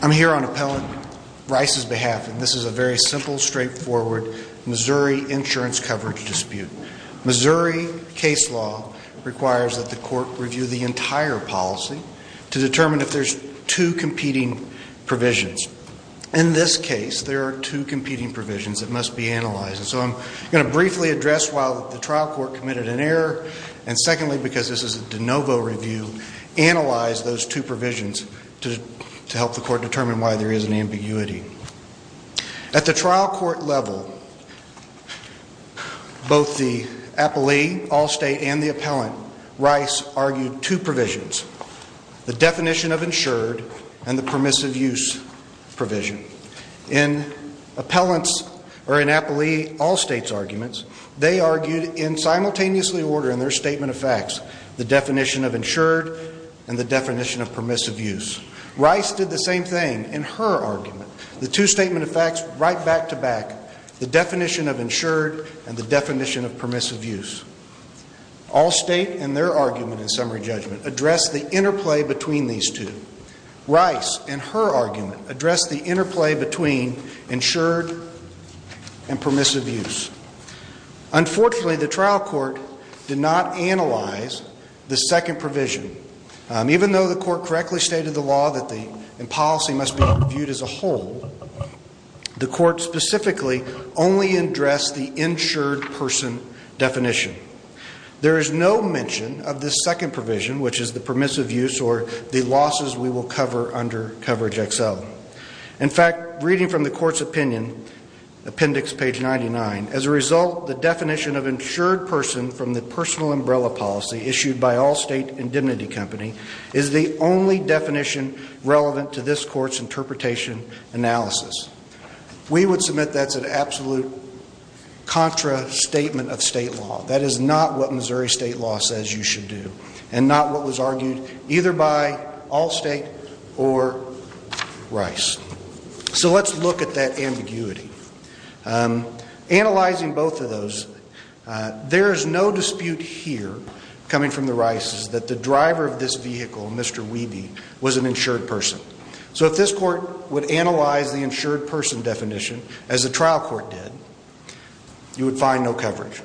I'm here on Appellant Rice's behalf, and this is a very simple, straightforward Missouri insurance coverage dispute. Missouri case law requires that the court review the entire policy to determine if there's two competing provisions. In this case, there are two competing provisions that must be analyzed. And so I'm going to briefly address why the trial court committed an error, and secondly, because this is a de novo review, analyze those two provisions to help the court determine why there is an ambiguity. At the trial court level, both the appellee, Allstate, and the appellant, Rice argued two provisions, the definition of insured and the permissive use provision. In appellant's or in appellee Allstate's arguments, they argued in simultaneously order in their statement of facts, the definition of insured and the definition of permissive use. Rice did the same thing in her argument, the two statement of facts right back to back, the definition of insured and the definition of permissive use. Allstate and their argument in summary judgment addressed the interplay between these two. Rice and her argument addressed the interplay between insured and permissive use. Unfortunately, the trial court did not analyze the second provision. In fact, reading from the court's opinion, appendix page 99, as a result the definition of insured person from the personal umbrella policy issued by Allstate Indemnity Company is the only definition relevant to this court's interpretation analysis. We would submit that's an absolute contra statement of state law. That is not what Missouri state law says you should do and not what was argued either by Allstate or Rice. So let's look at that ambiguity. Analyzing both of those, there is no dispute here coming from the Rices that the driver of this vehicle, Mr. Wiebe, was an insured person. So if this court would analyze the insured person definition as the trial court did, you would find no coverage.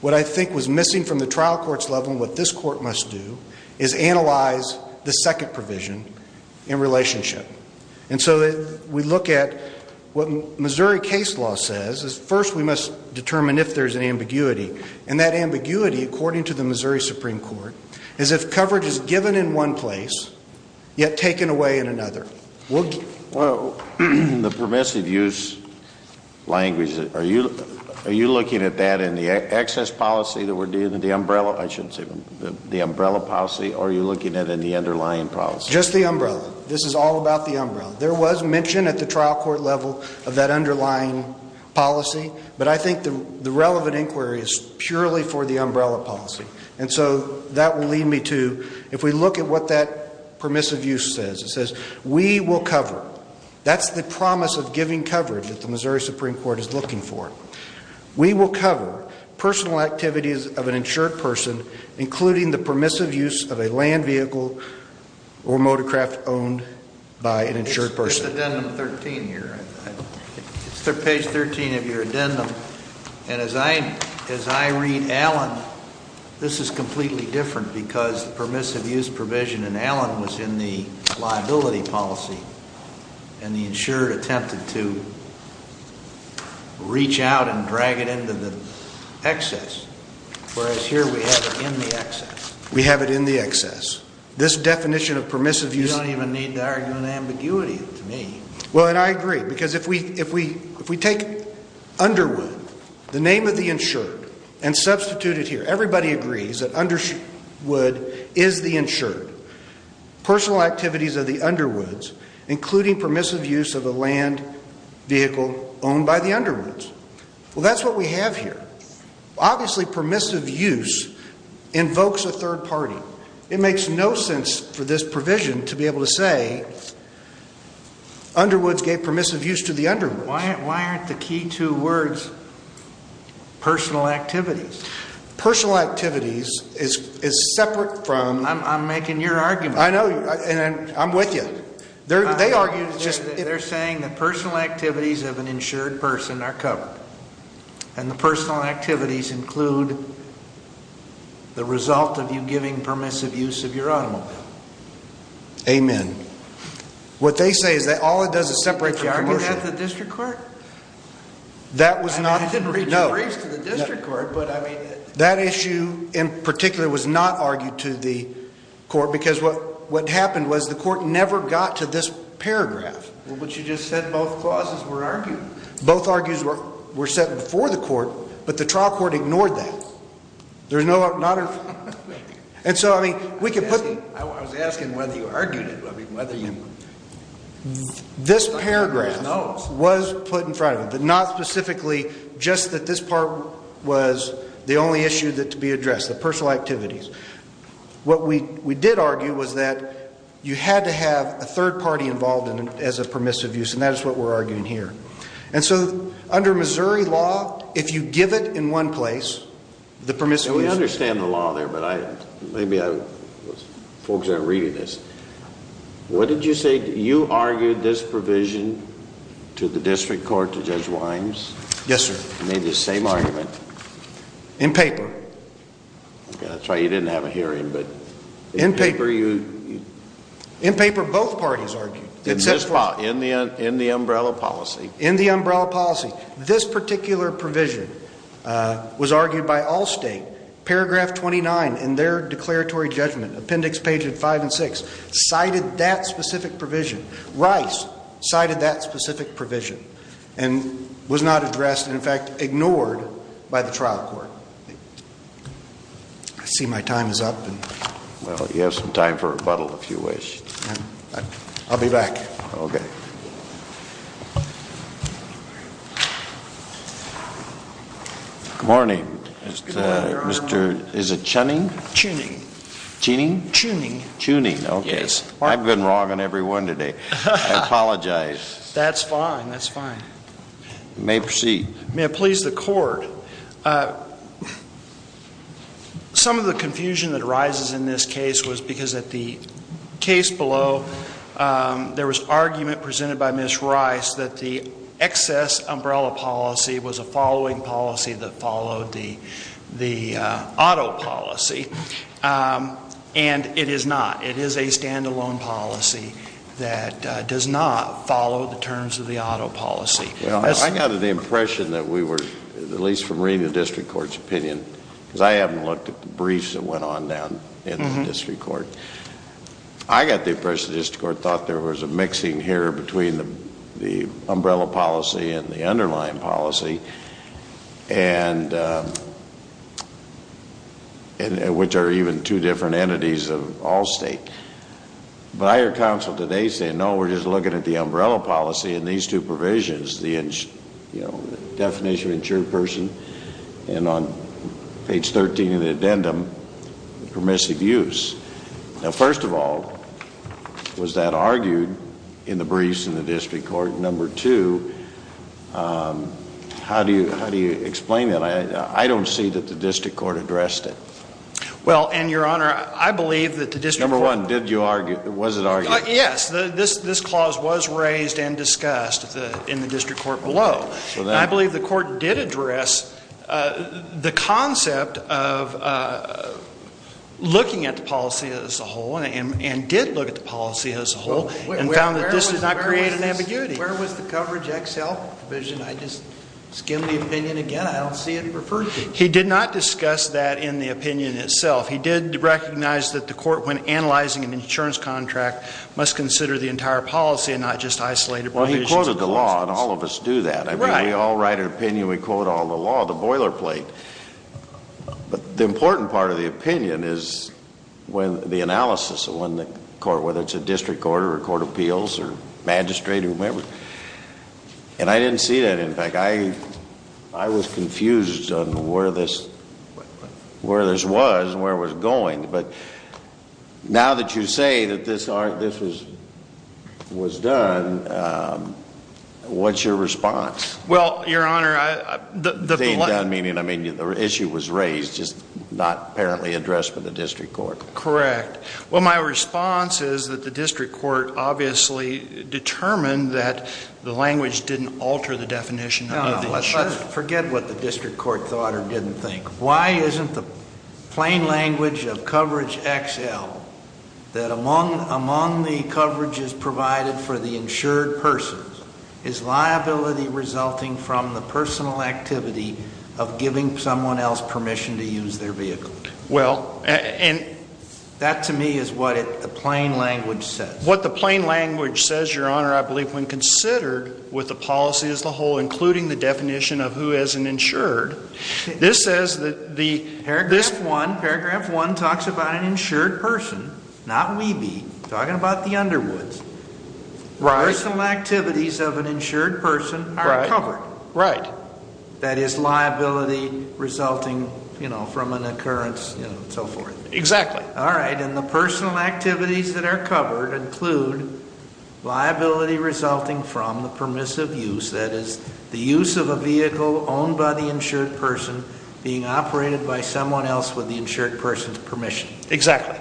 What I think was missing from the trial court's level and what this court must do is analyze the second provision in relationship. And so we look at what Missouri case law says is first we must determine if there is an ambiguity. And that ambiguity, according to the trial court, is if coverage is given in one place, yet taken away in another. Well, in the permissive use language, are you looking at that in the excess policy that we're dealing with, the umbrella, I shouldn't say the umbrella policy, or are you looking at in the underlying policy? Just the umbrella. This is all about the umbrella. There was mention at the trial court level of that underlying policy, but I think the relevant inquiry is purely for the umbrella policy. And so that will lead me to, if we look at what that permissive use says, it says we will cover, that's the promise of giving coverage that the Missouri Supreme Court is looking for. We will cover personal activities of an insured person, including the permissive use of a land vehicle or motorcraft owned by an insured person. This is addendum 13 here. It's page 13 of your addendum. And as I read Allen, this is completely different because permissive use provision in Allen was in the liability policy and the insured attempted to reach out and drag it into the excess. Whereas here we have it in the excess. We have it in the excess. This definition of permissive use You don't even need to argue an ambiguity to me. Well, and I agree. Because if we take Underwood, the name of the insured, and substitute it here. Everybody agrees that Underwood is the insured. Personal activities of the Underwoods, including permissive use of a land vehicle owned by the Underwoods. Well, that's what we have here. Obviously, permissive use invokes a third party. It makes no sense for this to be able to say Underwoods gave permissive use to the Underwoods. Why aren't the key two words personal activities? Personal activities is separate from I'm making your argument. I know. And I'm with you. They argued just They're saying that personal activities of an insured person are covered. And the personal activities include the result of you giving permissive use of your automobile. Amen. What they say is that all it does is separate from commercial Did you argue that at the district court? That was not I didn't reach a briefs to the district court, but I mean That issue in particular was not argued to the court because what happened was the court never got to this paragraph. But you just said both clauses were argued. Both argues were set before the court, but the trial court ignored that. There's no other And so, I mean, we could put I was asking whether you argued it, I mean, whether you This paragraph was put in front of it, but not specifically just that this part was the only issue that to be addressed, the personal activities. What we did argue was that you had to have a third party involved in it as a permissive use. And that is what we're arguing here. And so under Missouri law, if you give it in one place, the permissive use I don't understand the law there, but maybe folks aren't reading this. What did you say? You argued this provision to the district court, to Judge Wimes? Yes, sir. You made the same argument? In paper. That's right. You didn't have a hearing, but In paper, you In paper, both parties argued In this file, in the umbrella policy In the umbrella policy, this particular provision was argued by all state. Paragraph 29 in their declaratory judgment, appendix pages 5 and 6, cited that specific provision. Rice cited that specific provision and was not addressed, in fact, ignored by the trial court. I see my time is up. Well, you have some time for rebuttal if you wish. I'll be back. Okay. Good morning. Good morning, Your Honor. Is it Chunning? Chunning. Chunning? Chunning. Chunning, okay. Yes. I've been wrong on every one today. I apologize. That's fine. That's fine. You may proceed. May it please the court. Some of the confusion that arises in this case was because at the case below, there was argument presented by the judge in the case below, and the judge presented by Ms. Rice, that the excess umbrella policy was a following policy that followed the auto policy. And it is not. It is a stand-alone policy that does not follow the terms of the auto policy. Well, I got an impression that we were, at least from reading the district court's opinion, because I haven't looked at the briefs that went on down in the district court. I got the impression the district court thought there was a mixing here between the umbrella policy and the underlying policy, and which are even two different entities of all state. But I heard counsel today say, no, we're just looking at the umbrella policy and these two provisions, the definition of insured person, and on page 13 of the addendum, permissive use. Now, first of all, was that argued in the briefs in the district court? Number two, how do you explain that? I don't see that the district court addressed it. Well, and Your Honor, I believe that the district court Number one, did you argue, was it argued? Yes. This clause was raised and discussed in the district court below. I believe the concept of looking at the policy as a whole, and did look at the policy as a whole, and found that this did not create an ambiguity. Where was the coverage XL provision? I just skimmed the opinion again. I don't see it referred to. He did not discuss that in the opinion itself. He did recognize that the court, when analyzing an insurance contract, must consider the entire policy and not just isolated provisions. Well, he quoted the law, and all of us do that. Right. We all write our opinion. We quote all the law, the boilerplate. But the important part of the opinion is the analysis of when the court, whether it's a district court, or a court of appeals, or magistrate, or whoever. And I didn't see that, in fact. I was confused on where this was and where it was going. But now that you say that this was done, what's your response? Well, Your Honor, I... Being done meaning, I mean, the issue was raised, just not apparently addressed by the district court. Correct. Well, my response is that the district court obviously determined that the language didn't alter the definition of the insurance. No. Let's forget what the district court thought or didn't think. Why isn't the plain language of coverage XL, that among the coverages provided for the insured persons, is liability resulting from the personal activity of giving someone else permission to use their vehicle? Well... And that, to me, is what the plain language says. What the plain language says, Your Honor, I believe, when considered with the policy as a whole, including the definition of who is an insured, this says that the... Paragraph one, paragraph one talks about an insured person, not Weeby, talking about the Underwoods. Right. The personal activities of an insured person are covered. Right. That is liability resulting, you know, from an occurrence, you know, and so forth. Exactly. All right. And the personal activities that are covered include liability resulting from the permissive use, that is, the use of a vehicle owned by the insured person being operated by someone else with the insured person's permission. Exactly.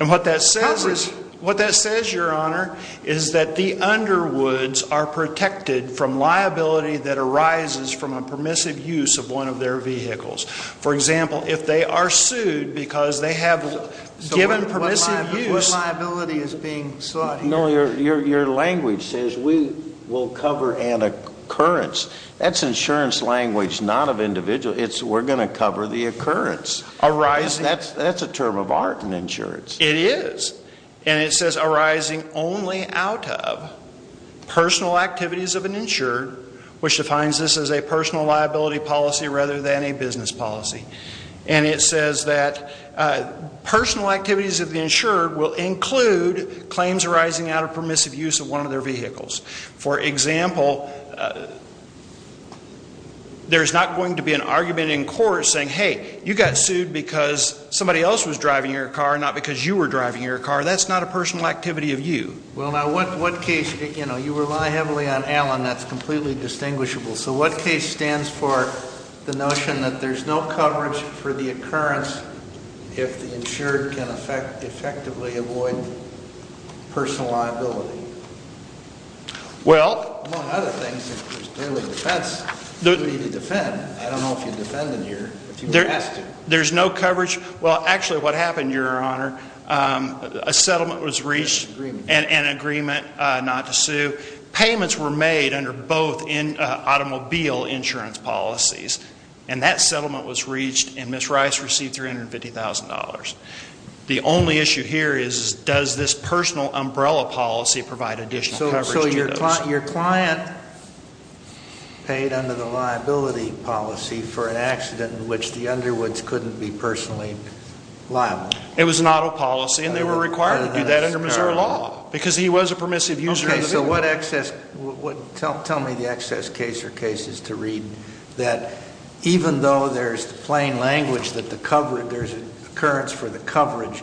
And what that says is... What that says, Your Honor, is that the Underwoods are protected from liability that arises from a permissive use of one of their vehicles. For example, if they are sued because they have given permissive use... So what liability is being sought here? No, your language says we will cover an occurrence. That's insurance language, not of individual. We're going to cover the occurrence. That's a term of art in insurance. It is. And it says arising only out of personal activities of an insured, which defines this as a personal liability policy rather than a business policy. And it says that personal activities of the insured will include claims arising out of permissive use of one of their saying, hey, you got sued because somebody else was driving your car, not because you were driving your car. That's not a personal activity of you. Well, now, what case, you know, you rely heavily on Allen. That's completely distinguishable. So what case stands for the notion that there's no coverage for the occurrence if the insured can effectively avoid personal liability? Well... There's no coverage. Well, actually, what happened, your Honor, a settlement was reached and an agreement not to sue. Payments were made under both automobile insurance policies. And that settlement was reached and Ms. Rice received $350,000. The only issue here is does this personal umbrella policy provide additional coverage to those? Your client paid under the liability policy for an accident in which the underwoods couldn't be personally liable. It was an auto policy and they were required to do that under Missouri law because he was a permissive user. Okay, so what excess, tell me the excess case or cases to read that even though there's the plain language that there's an occurrence for the coverage,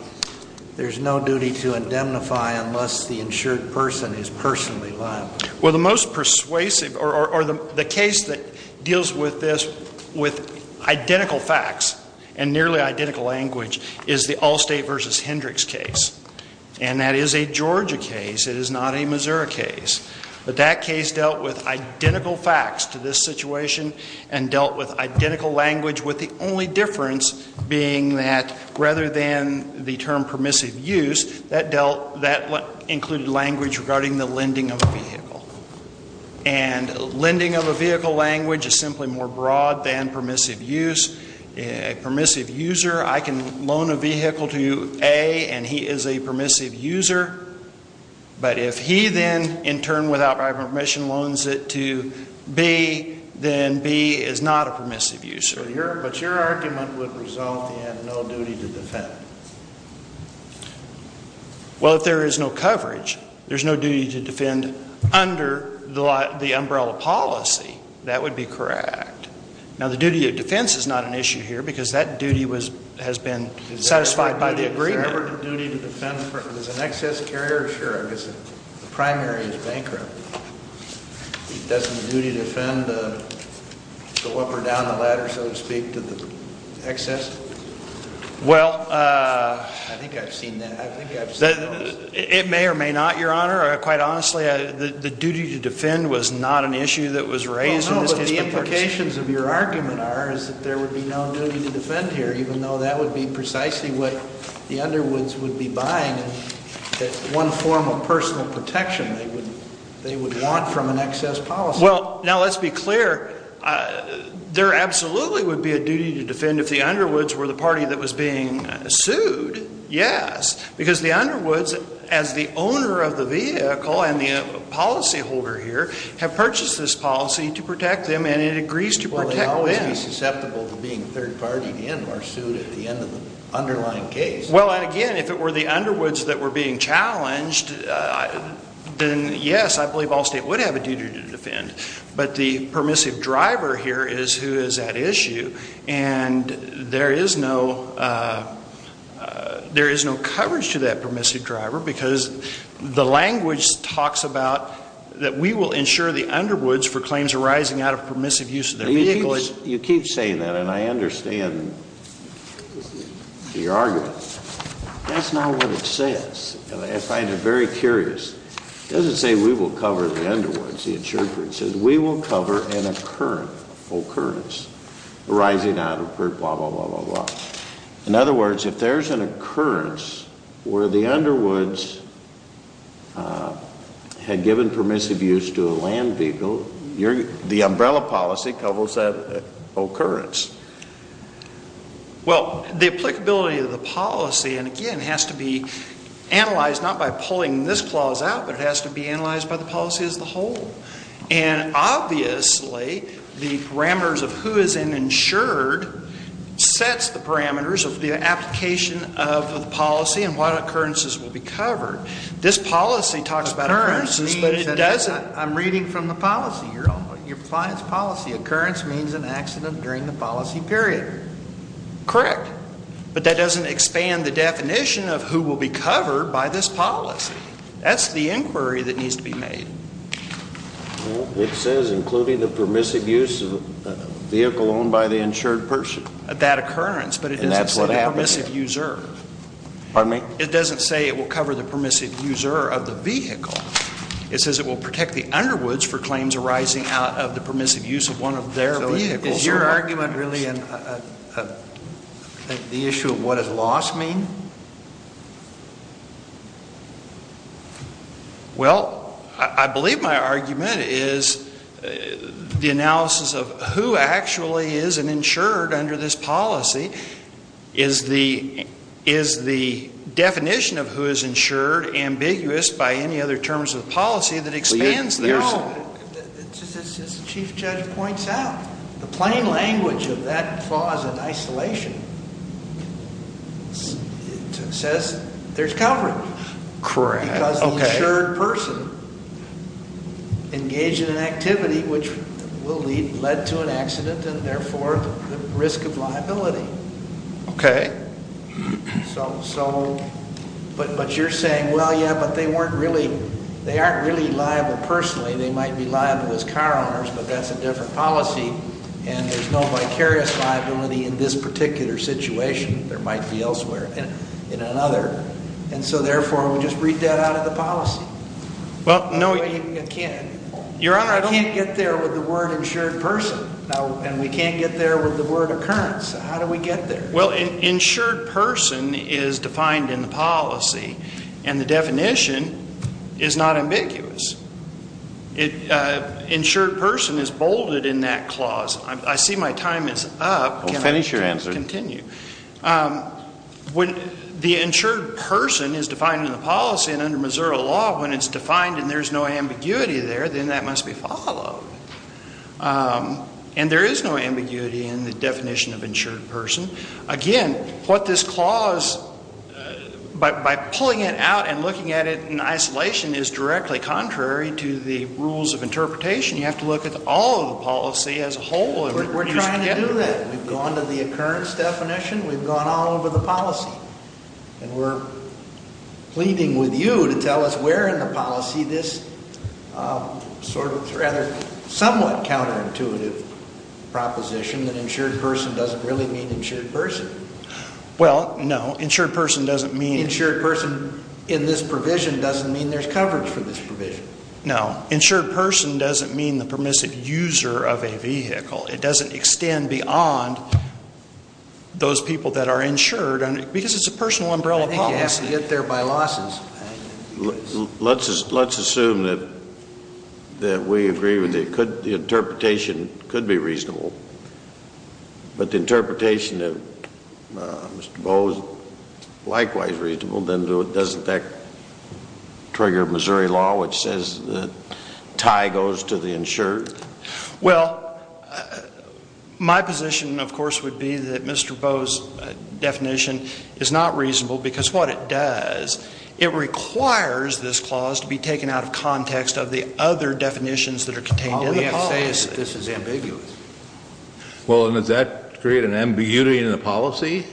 there's no duty to indemnify unless the insured person is personally liable? Well, the most persuasive or the case that deals with this with identical facts and nearly identical language is the Allstate v. Hendricks case. And that is a Georgia case. It is not a Missouri case. But that case dealt with identical facts to this situation and dealt with identical language with the only difference being that rather than the term permissive use, that included language regarding the lending of a vehicle. And lending of a vehicle language is simply more broad than permissive use. A permissive user, I can loan a vehicle to you, A, and he is a permissive user. But if he then in turn without my permission loans it to B, then B is not a permissive user. But your argument would result in no duty to defend. Well, if there is no coverage, there's no duty to defend under the umbrella policy. That would be correct. Now, the duty of defense is not an issue here because that duty has been satisfied by the agreement. Is there ever a duty to defend if there's an excess carrier? Sure, I guess the primary carrier is bankrupt. Doesn't the duty to defend go up or down the ladder, so to speak, to the excess? Well, I think I've seen that. I think I've seen those. It may or may not, Your Honor. Quite honestly, the duty to defend was not an issue that was raised in this case. Well, no, but the implications of your argument are is that there would be no duty to defend here even though that would be precisely what the Underwoods would be buying, that one form of personal protection they would want from an excess policy. Well, now let's be clear. There absolutely would be a duty to defend if the Underwoods were the party that was being sued, yes, because the Underwoods, as the owner of the vehicle and the policyholder here, have purchased this policy to protect them and it agrees to protect them. Well, they'd always be susceptible to being third-partied in or sued at the end of the underlying case. Well, and again, if it were the Underwoods that were being challenged, then yes, I believe all State would have a duty to defend, but the permissive driver here is who is at issue and there is no coverage to that permissive driver because the language talks about that we will ensure the Underwoods for claims arising out of permissive use of their vehicle. You keep saying that and I understand the argument. That's not what it says and I find it very curious. It doesn't say we will cover the Underwoods. It says we will cover an occurrence arising out of blah, blah, blah, blah, blah. In other words, if there's an occurrence where the Underwoods had given permissive use to a land vehicle, the umbrella policy covers that occurrence. Well, the applicability of the policy, and again, has to be analyzed not by pulling this clause out, but it has to be analyzed by the policy as a whole. And obviously, the parameters of who is insured sets the parameters of the application of the policy and what occurrences will be covered. This policy talks about occurrences, but it doesn't. I'm reading from the policy. Your client's policy. Occurrence means an accident during the policy period. Correct. But that doesn't expand the definition of who will be covered by this policy. That's the inquiry that needs to be made. It says including the permissive use of a vehicle owned by the insured person. That occurrence. And that's what happened here. But it doesn't say the permissive user. Pardon me? It says it will protect the Underwoods for claims arising out of the permissive use of one of their vehicles. So is your argument really the issue of what does loss mean? Well, I believe my argument is the analysis of who actually is an insured under this policy is the definition of who is insured ambiguous by any other terms of policy that expands their own. As the Chief Judge points out, the plain language of that clause in isolation says there's coverage. Correct. Because the insured person engaged in an activity which will lead to an accident and therefore the risk of liability. Okay. But you're saying, well, yeah, but they weren't really, they aren't really liable personally. They might be liable as car owners, but that's a different policy. And there's no vicarious liability in this particular situation. There might be elsewhere in another. And so therefore we just read that out of the policy. Well, no. You can't. Your Honor, I don't You can't get there with the word insured person. And we can't get there with the word occurrence. How do we get there? Well, insured person is defined in the policy. And the definition is not ambiguous. Insured person is bolded in that clause. I see my time is up. Finish your answer. Continue. When the insured person is defined in the policy and under Missouri law when it's defined and there's no ambiguity there, then that must be followed. And there is no ambiguity in the definition of insured person. Again, what this clause, by pulling it out and looking at it in isolation is directly contrary to the rules of interpretation. You have to look at all of the policy as a whole. We're trying to do that. We've gone to the occurrence definition. We've gone all over the policy. And we're pleading with you to tell us where in the policy this sort of rather somewhat counterintuitive proposition that insured person doesn't really mean insured person. Well, no. Insured person doesn't mean Insured person in this provision doesn't mean there's coverage for this provision. No. Insured person doesn't mean the permissive user of a vehicle. It doesn't extend beyond those people that are insured. Because it's a personal umbrella policy. I think you have to get there by losses. Let's assume that we agree with it. The interpretation could be reasonable. But the interpretation of Mr. Bowe is likewise reasonable. Then doesn't that trigger Missouri law which says the tie goes to the insured? Well, my position, of course, would be that Mr. Bowe's definition is not reasonable. Because what it does, it requires this clause to be taken out of context of the other definitions that are contained in the policy. Well, we have to say that this is ambiguous. Well, does that create an ambiguity in the policy?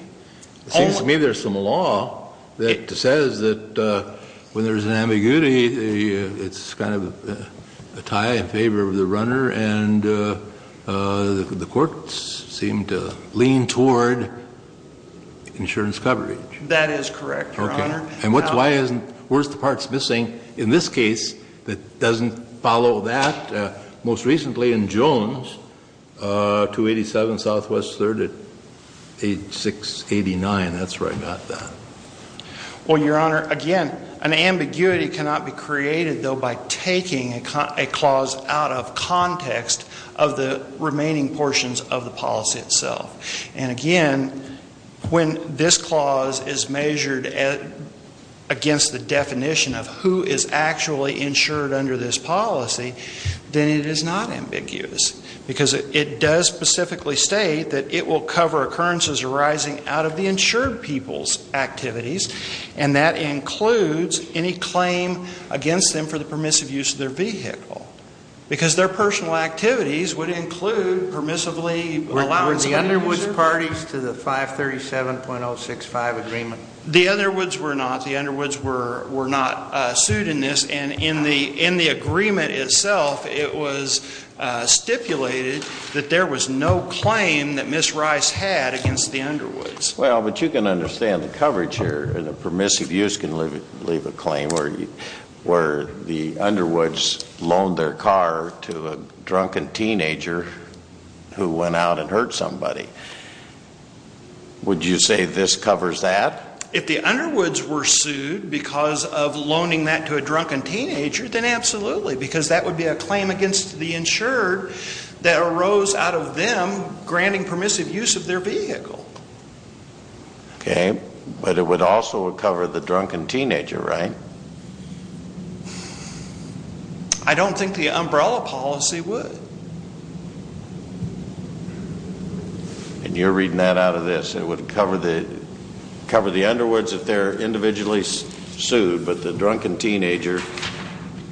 It seems to me there's some law that says that when there's an ambiguity, it's kind of a tie in favor of the runner. And the courts seem to lean toward insurance coverage. That is correct, Your Honor. And where's the parts missing in this case that doesn't follow that? Most recently in Jones, 287 Southwest 3rd at 8689. That's where I got that. Well, Your Honor, again, an ambiguity cannot be created, though, by taking a clause out of context of the remaining portions of the policy itself. And again, when this clause is measured against the definition of who is actually insured under this policy, then it is not ambiguous. Because it does specifically state that it will cover occurrences arising out of the insured people's activities. And that includes any claim against them for the permissive use of their vehicle. Because their personal activities would include permissively allowing the user... Were the Underwoods parties to the 537.065 agreement? The Underwoods were not. The Underwoods were not sued in this. And in the agreement itself, it was stipulated that there was no claim that Ms. Rice had against the Underwoods. Well, but you can understand the coverage here. The permissive use can leave a claim where the Underwoods loaned their car to a drunken teenager who went out and hurt somebody. Would you say this covers that? If the Underwoods were sued because of loaning that to a drunken teenager, then absolutely. Because that would be a claim against the insured that arose out of them granting permissive use of their vehicle. Okay. But it would also cover the drunken teenager, right? I don't think the umbrella policy would. And you're reading that out of this. It would cover the Underwoods if they're individually sued, but the drunken teenager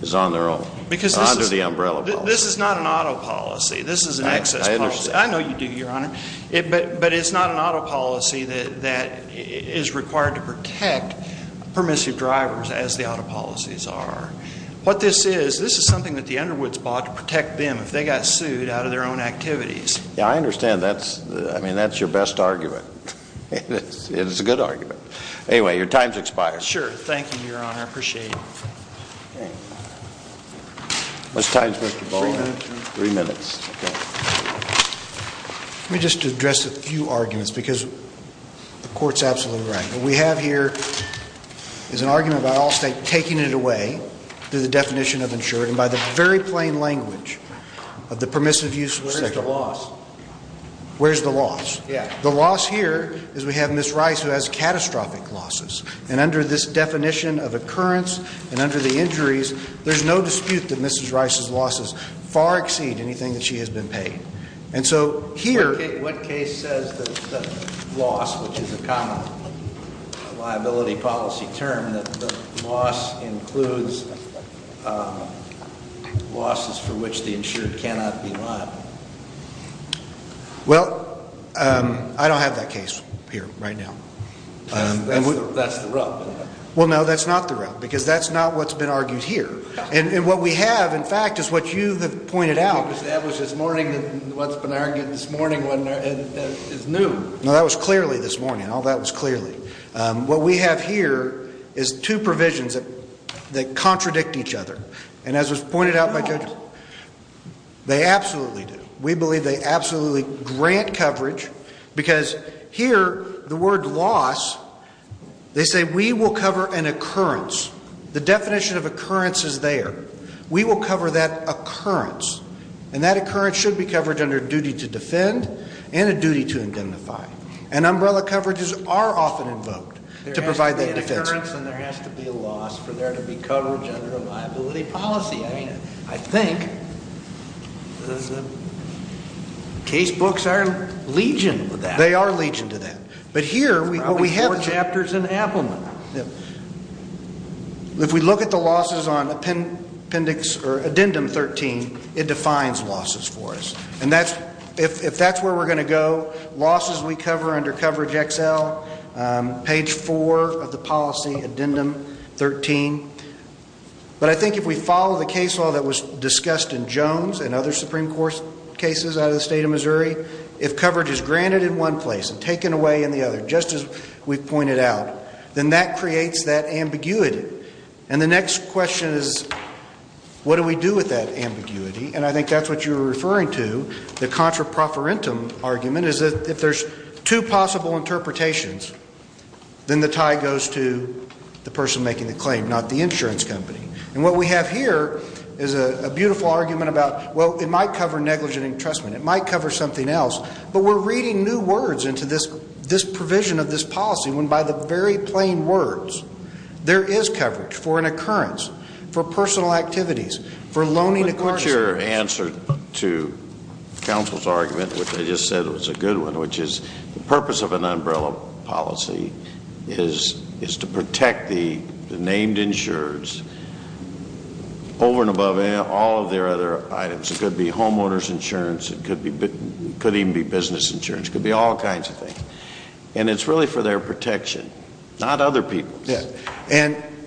is on their own. Because this is... Under the umbrella policy. This is not an auto policy. This is an excess policy. I understand. I know you do, Your Honor. But it's not an auto policy that is required to protect permissive drivers as the auto policies are. What this is, this is something that the Underwoods bought to protect them. If they got sued out of their own activities. Yeah, I understand. I mean, that's your best argument. It's a good argument. Anyway, your time's expired. Sure. Thank you, Your Honor. I appreciate it. What's the time, Mr. Bowling? Three minutes. Three minutes. Let me just address a few arguments because the Court's absolutely right. What we have here is an argument by all states taking it away to the definition of insured. And by the very plain language of the permissive use of a cigarette. Where's the loss? Where's the loss? Yeah. The loss here is we have Ms. Rice who has catastrophic losses. And under this definition of occurrence and under the injuries, there's no dispute that Ms. Rice's losses far exceed anything that she has been paid. And so here... What case says that the loss, which is a common liability policy term, that the loss includes losses for which the insured cannot be liable? Well, I don't have that case here right now. That's the rub. Well, no, that's not the rub. Because that's not what's been argued here. And what we have, in fact, is what you have pointed out. That was this morning. What's been argued this morning is new. No, that was clearly this morning. All that was clearly. What we have here is two provisions that contradict each other. And as was pointed out by Judge, they absolutely do. We believe they absolutely grant coverage. Because here, the word loss, they say we will cover an occurrence. The definition of occurrence is there. We will cover that occurrence. And that occurrence should be covered under duty to defend and a duty to identify. And umbrella coverages are often invoked to provide that defense. There has to be an occurrence and there has to be a loss for there to be coverage under a liability policy. I mean, I think the case books are legion to that. They are legion to that. But here, what we have... There's probably four chapters in Appelman. If we look at the losses on appendix or addendum 13, it defines losses for us. And if that's where we're going to go, losses we cover under coverage XL, page 4 of the policy, addendum 13. But I think if we follow the case law that was discussed in Jones and other Supreme Court cases out of the state of Missouri, if coverage is granted in one place and taken away in the other, just as we've pointed out, then that creates that ambiguity. And the next question is, what do we do with that ambiguity? And I think that's what you were referring to, the contra profferentum argument, is that if there's two possible interpretations, then the tie goes to the person making the claim, not the insurance company. And what we have here is a beautiful argument about, well, it might cover negligent entrustment. It might cover something else. But we're reading new words into this provision of this policy when, by the very plain words, there is coverage for an occurrence, for personal activities, for loaning... Let me put your answer to counsel's argument, which I just said was a good one, which is the purpose of an umbrella policy is to protect the named insureds over and above all of their other items. It could be homeowners insurance. It could even be business insurance. It could be all kinds of things. And it's really for their protection, not other people's.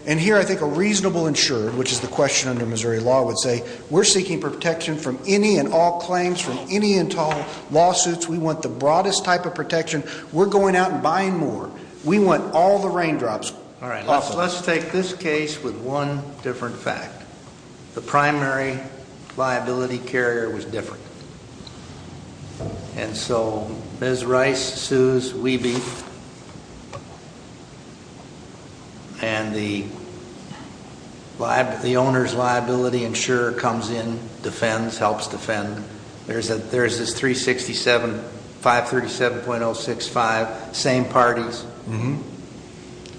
And here I think a reasonable insurer, which is the question under Missouri law, would say, we're seeking protection from any and all claims, from any and all lawsuits. We want the broadest type of protection. We're going out and buying more. We want all the raindrops off of it. All right. Let's take this case with one different fact. The primary liability carrier was different. And so Ms. Rice sues Weeby. And the owner's liability insurer comes in, defends, helps defend. There's this 367, 537.065, same parties.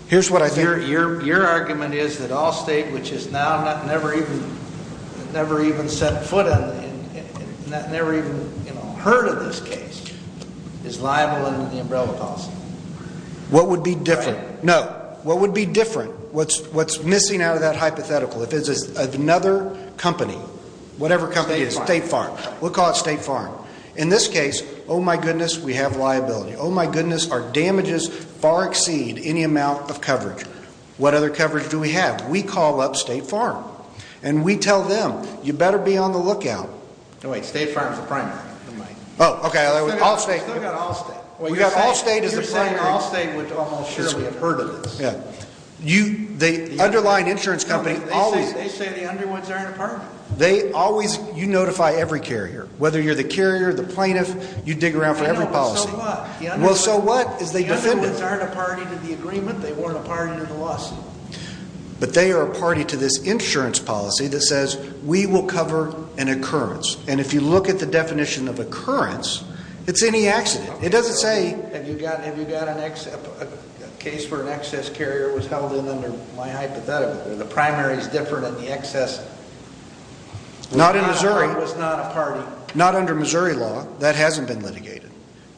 Here's what I think. Your argument is that Allstate, which has now never even set foot in, never even heard of this case, is liable under the umbrella policy. What would be different? No. What would be different, what's missing out of that hypothetical, if it's another company, whatever company it is, State Farm, we'll call it State Farm. In this case, oh my goodness, we have liability. Oh my goodness, our damages far exceed any amount of coverage. What other coverage do we have? We call up State Farm. And we tell them, you better be on the lookout. No, wait. State Farm's the primary. Oh, okay. Allstate. We've got Allstate as the primary. You're saying Allstate would almost surely have heard of this. Yeah. The underlying insurance company always... They say the underwoods are an apartment. You notify every carrier. Whether you're the carrier, the plaintiff, you dig around for every policy. Well, so what? The underwoods aren't a party to the agreement. They weren't a party to the lawsuit. But they are a party to this insurance policy that says, we will cover an occurrence. And if you look at the definition of occurrence, it's any accident. It doesn't say... Have you got a case where an excess carrier was held in under my hypothetical? The primary's different and the excess... Not in Missouri. Was not a party. Not under Missouri law. That hasn't been litigated.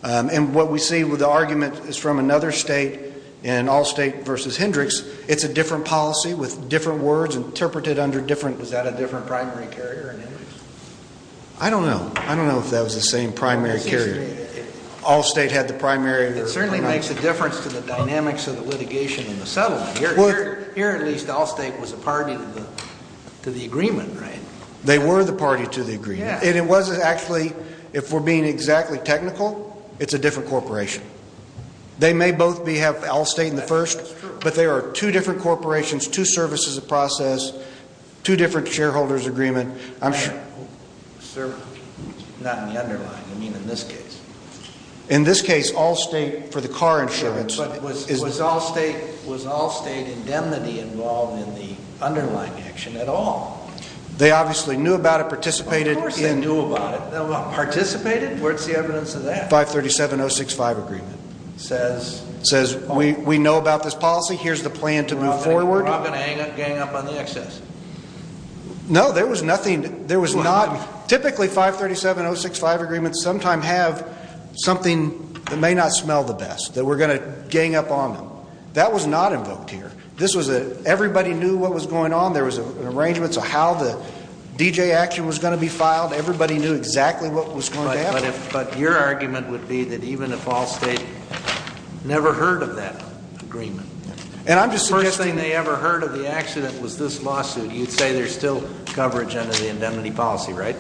And what we see with the argument is from another state in Allstate versus Hendricks. It's a different policy with different words interpreted under different... Was that a different primary carrier in Hendricks? I don't know. I don't know if that was the same primary carrier. Allstate had the primary... It certainly makes a difference to the dynamics of the litigation in the settlement. Here, at least, Allstate was a party to the agreement, right? They were the party to the agreement. And it wasn't actually... If we're being exactly technical, it's a different corporation. They may both have Allstate in the first, but they are two different corporations, two services of process, two different shareholders' agreement. I'm sure... Sir, not in the underlying. I mean, in this case. In this case, Allstate, for the car insurance... But was Allstate indemnity involved in the underlying action at all? They obviously knew about it, participated in... Of course they knew about it. Participated? Where's the evidence of that? 537-065 agreement. Says... Says, we know about this policy. Here's the plan to move forward. They're not going to gang up on the excess? No, there was nothing... There was not... Typically, 537-065 agreements sometime have something that may not smell the best, that we're going to gang up on them. That was not invoked here. This was a... Everybody knew what was going on. There was arrangements of how the D.J. action was going to be filed. Everybody knew exactly what was going to happen. But if... But your argument would be that even if Allstate never heard of that agreement... And I'm just suggesting... First thing they ever heard of the accident was this lawsuit. You'd say there's still coverage under the indemnity policy, right?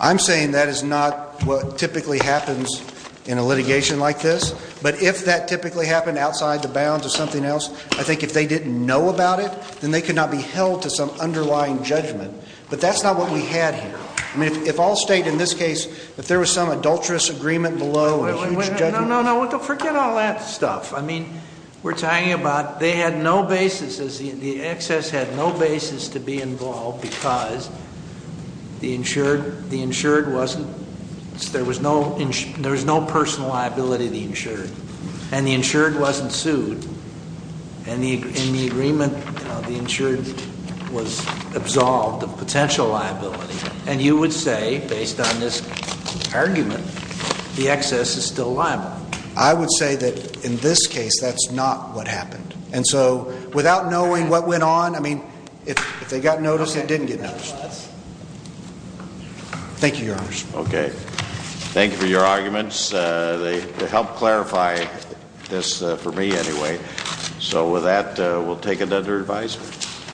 I'm saying that is not what typically happens in a litigation like this. But if that typically happened outside the bounds of something else, I think if they didn't know about it, then they could not be held to some underlying judgment. But that's not what we had here. I mean, if Allstate in this case... If there was some adulterous agreement below and a huge judgment... No, no, no. Forget all that stuff. I mean, we're talking about... They had no basis... The excess had no basis to be involved because the insured wasn't... There was no personal liability to the insured. And the insured wasn't sued. And in the agreement, the insured was absolved of potential liability. And you would say, based on this argument, the excess is still liable. I would say that in this case, that's not what happened. And so, without knowing what went on... I mean, if they got noticed, they didn't get noticed. Thank you, Your Honor. Okay. Thank you for your arguments. They helped clarify this for me, anyway. So, with that, we'll take it under advisory.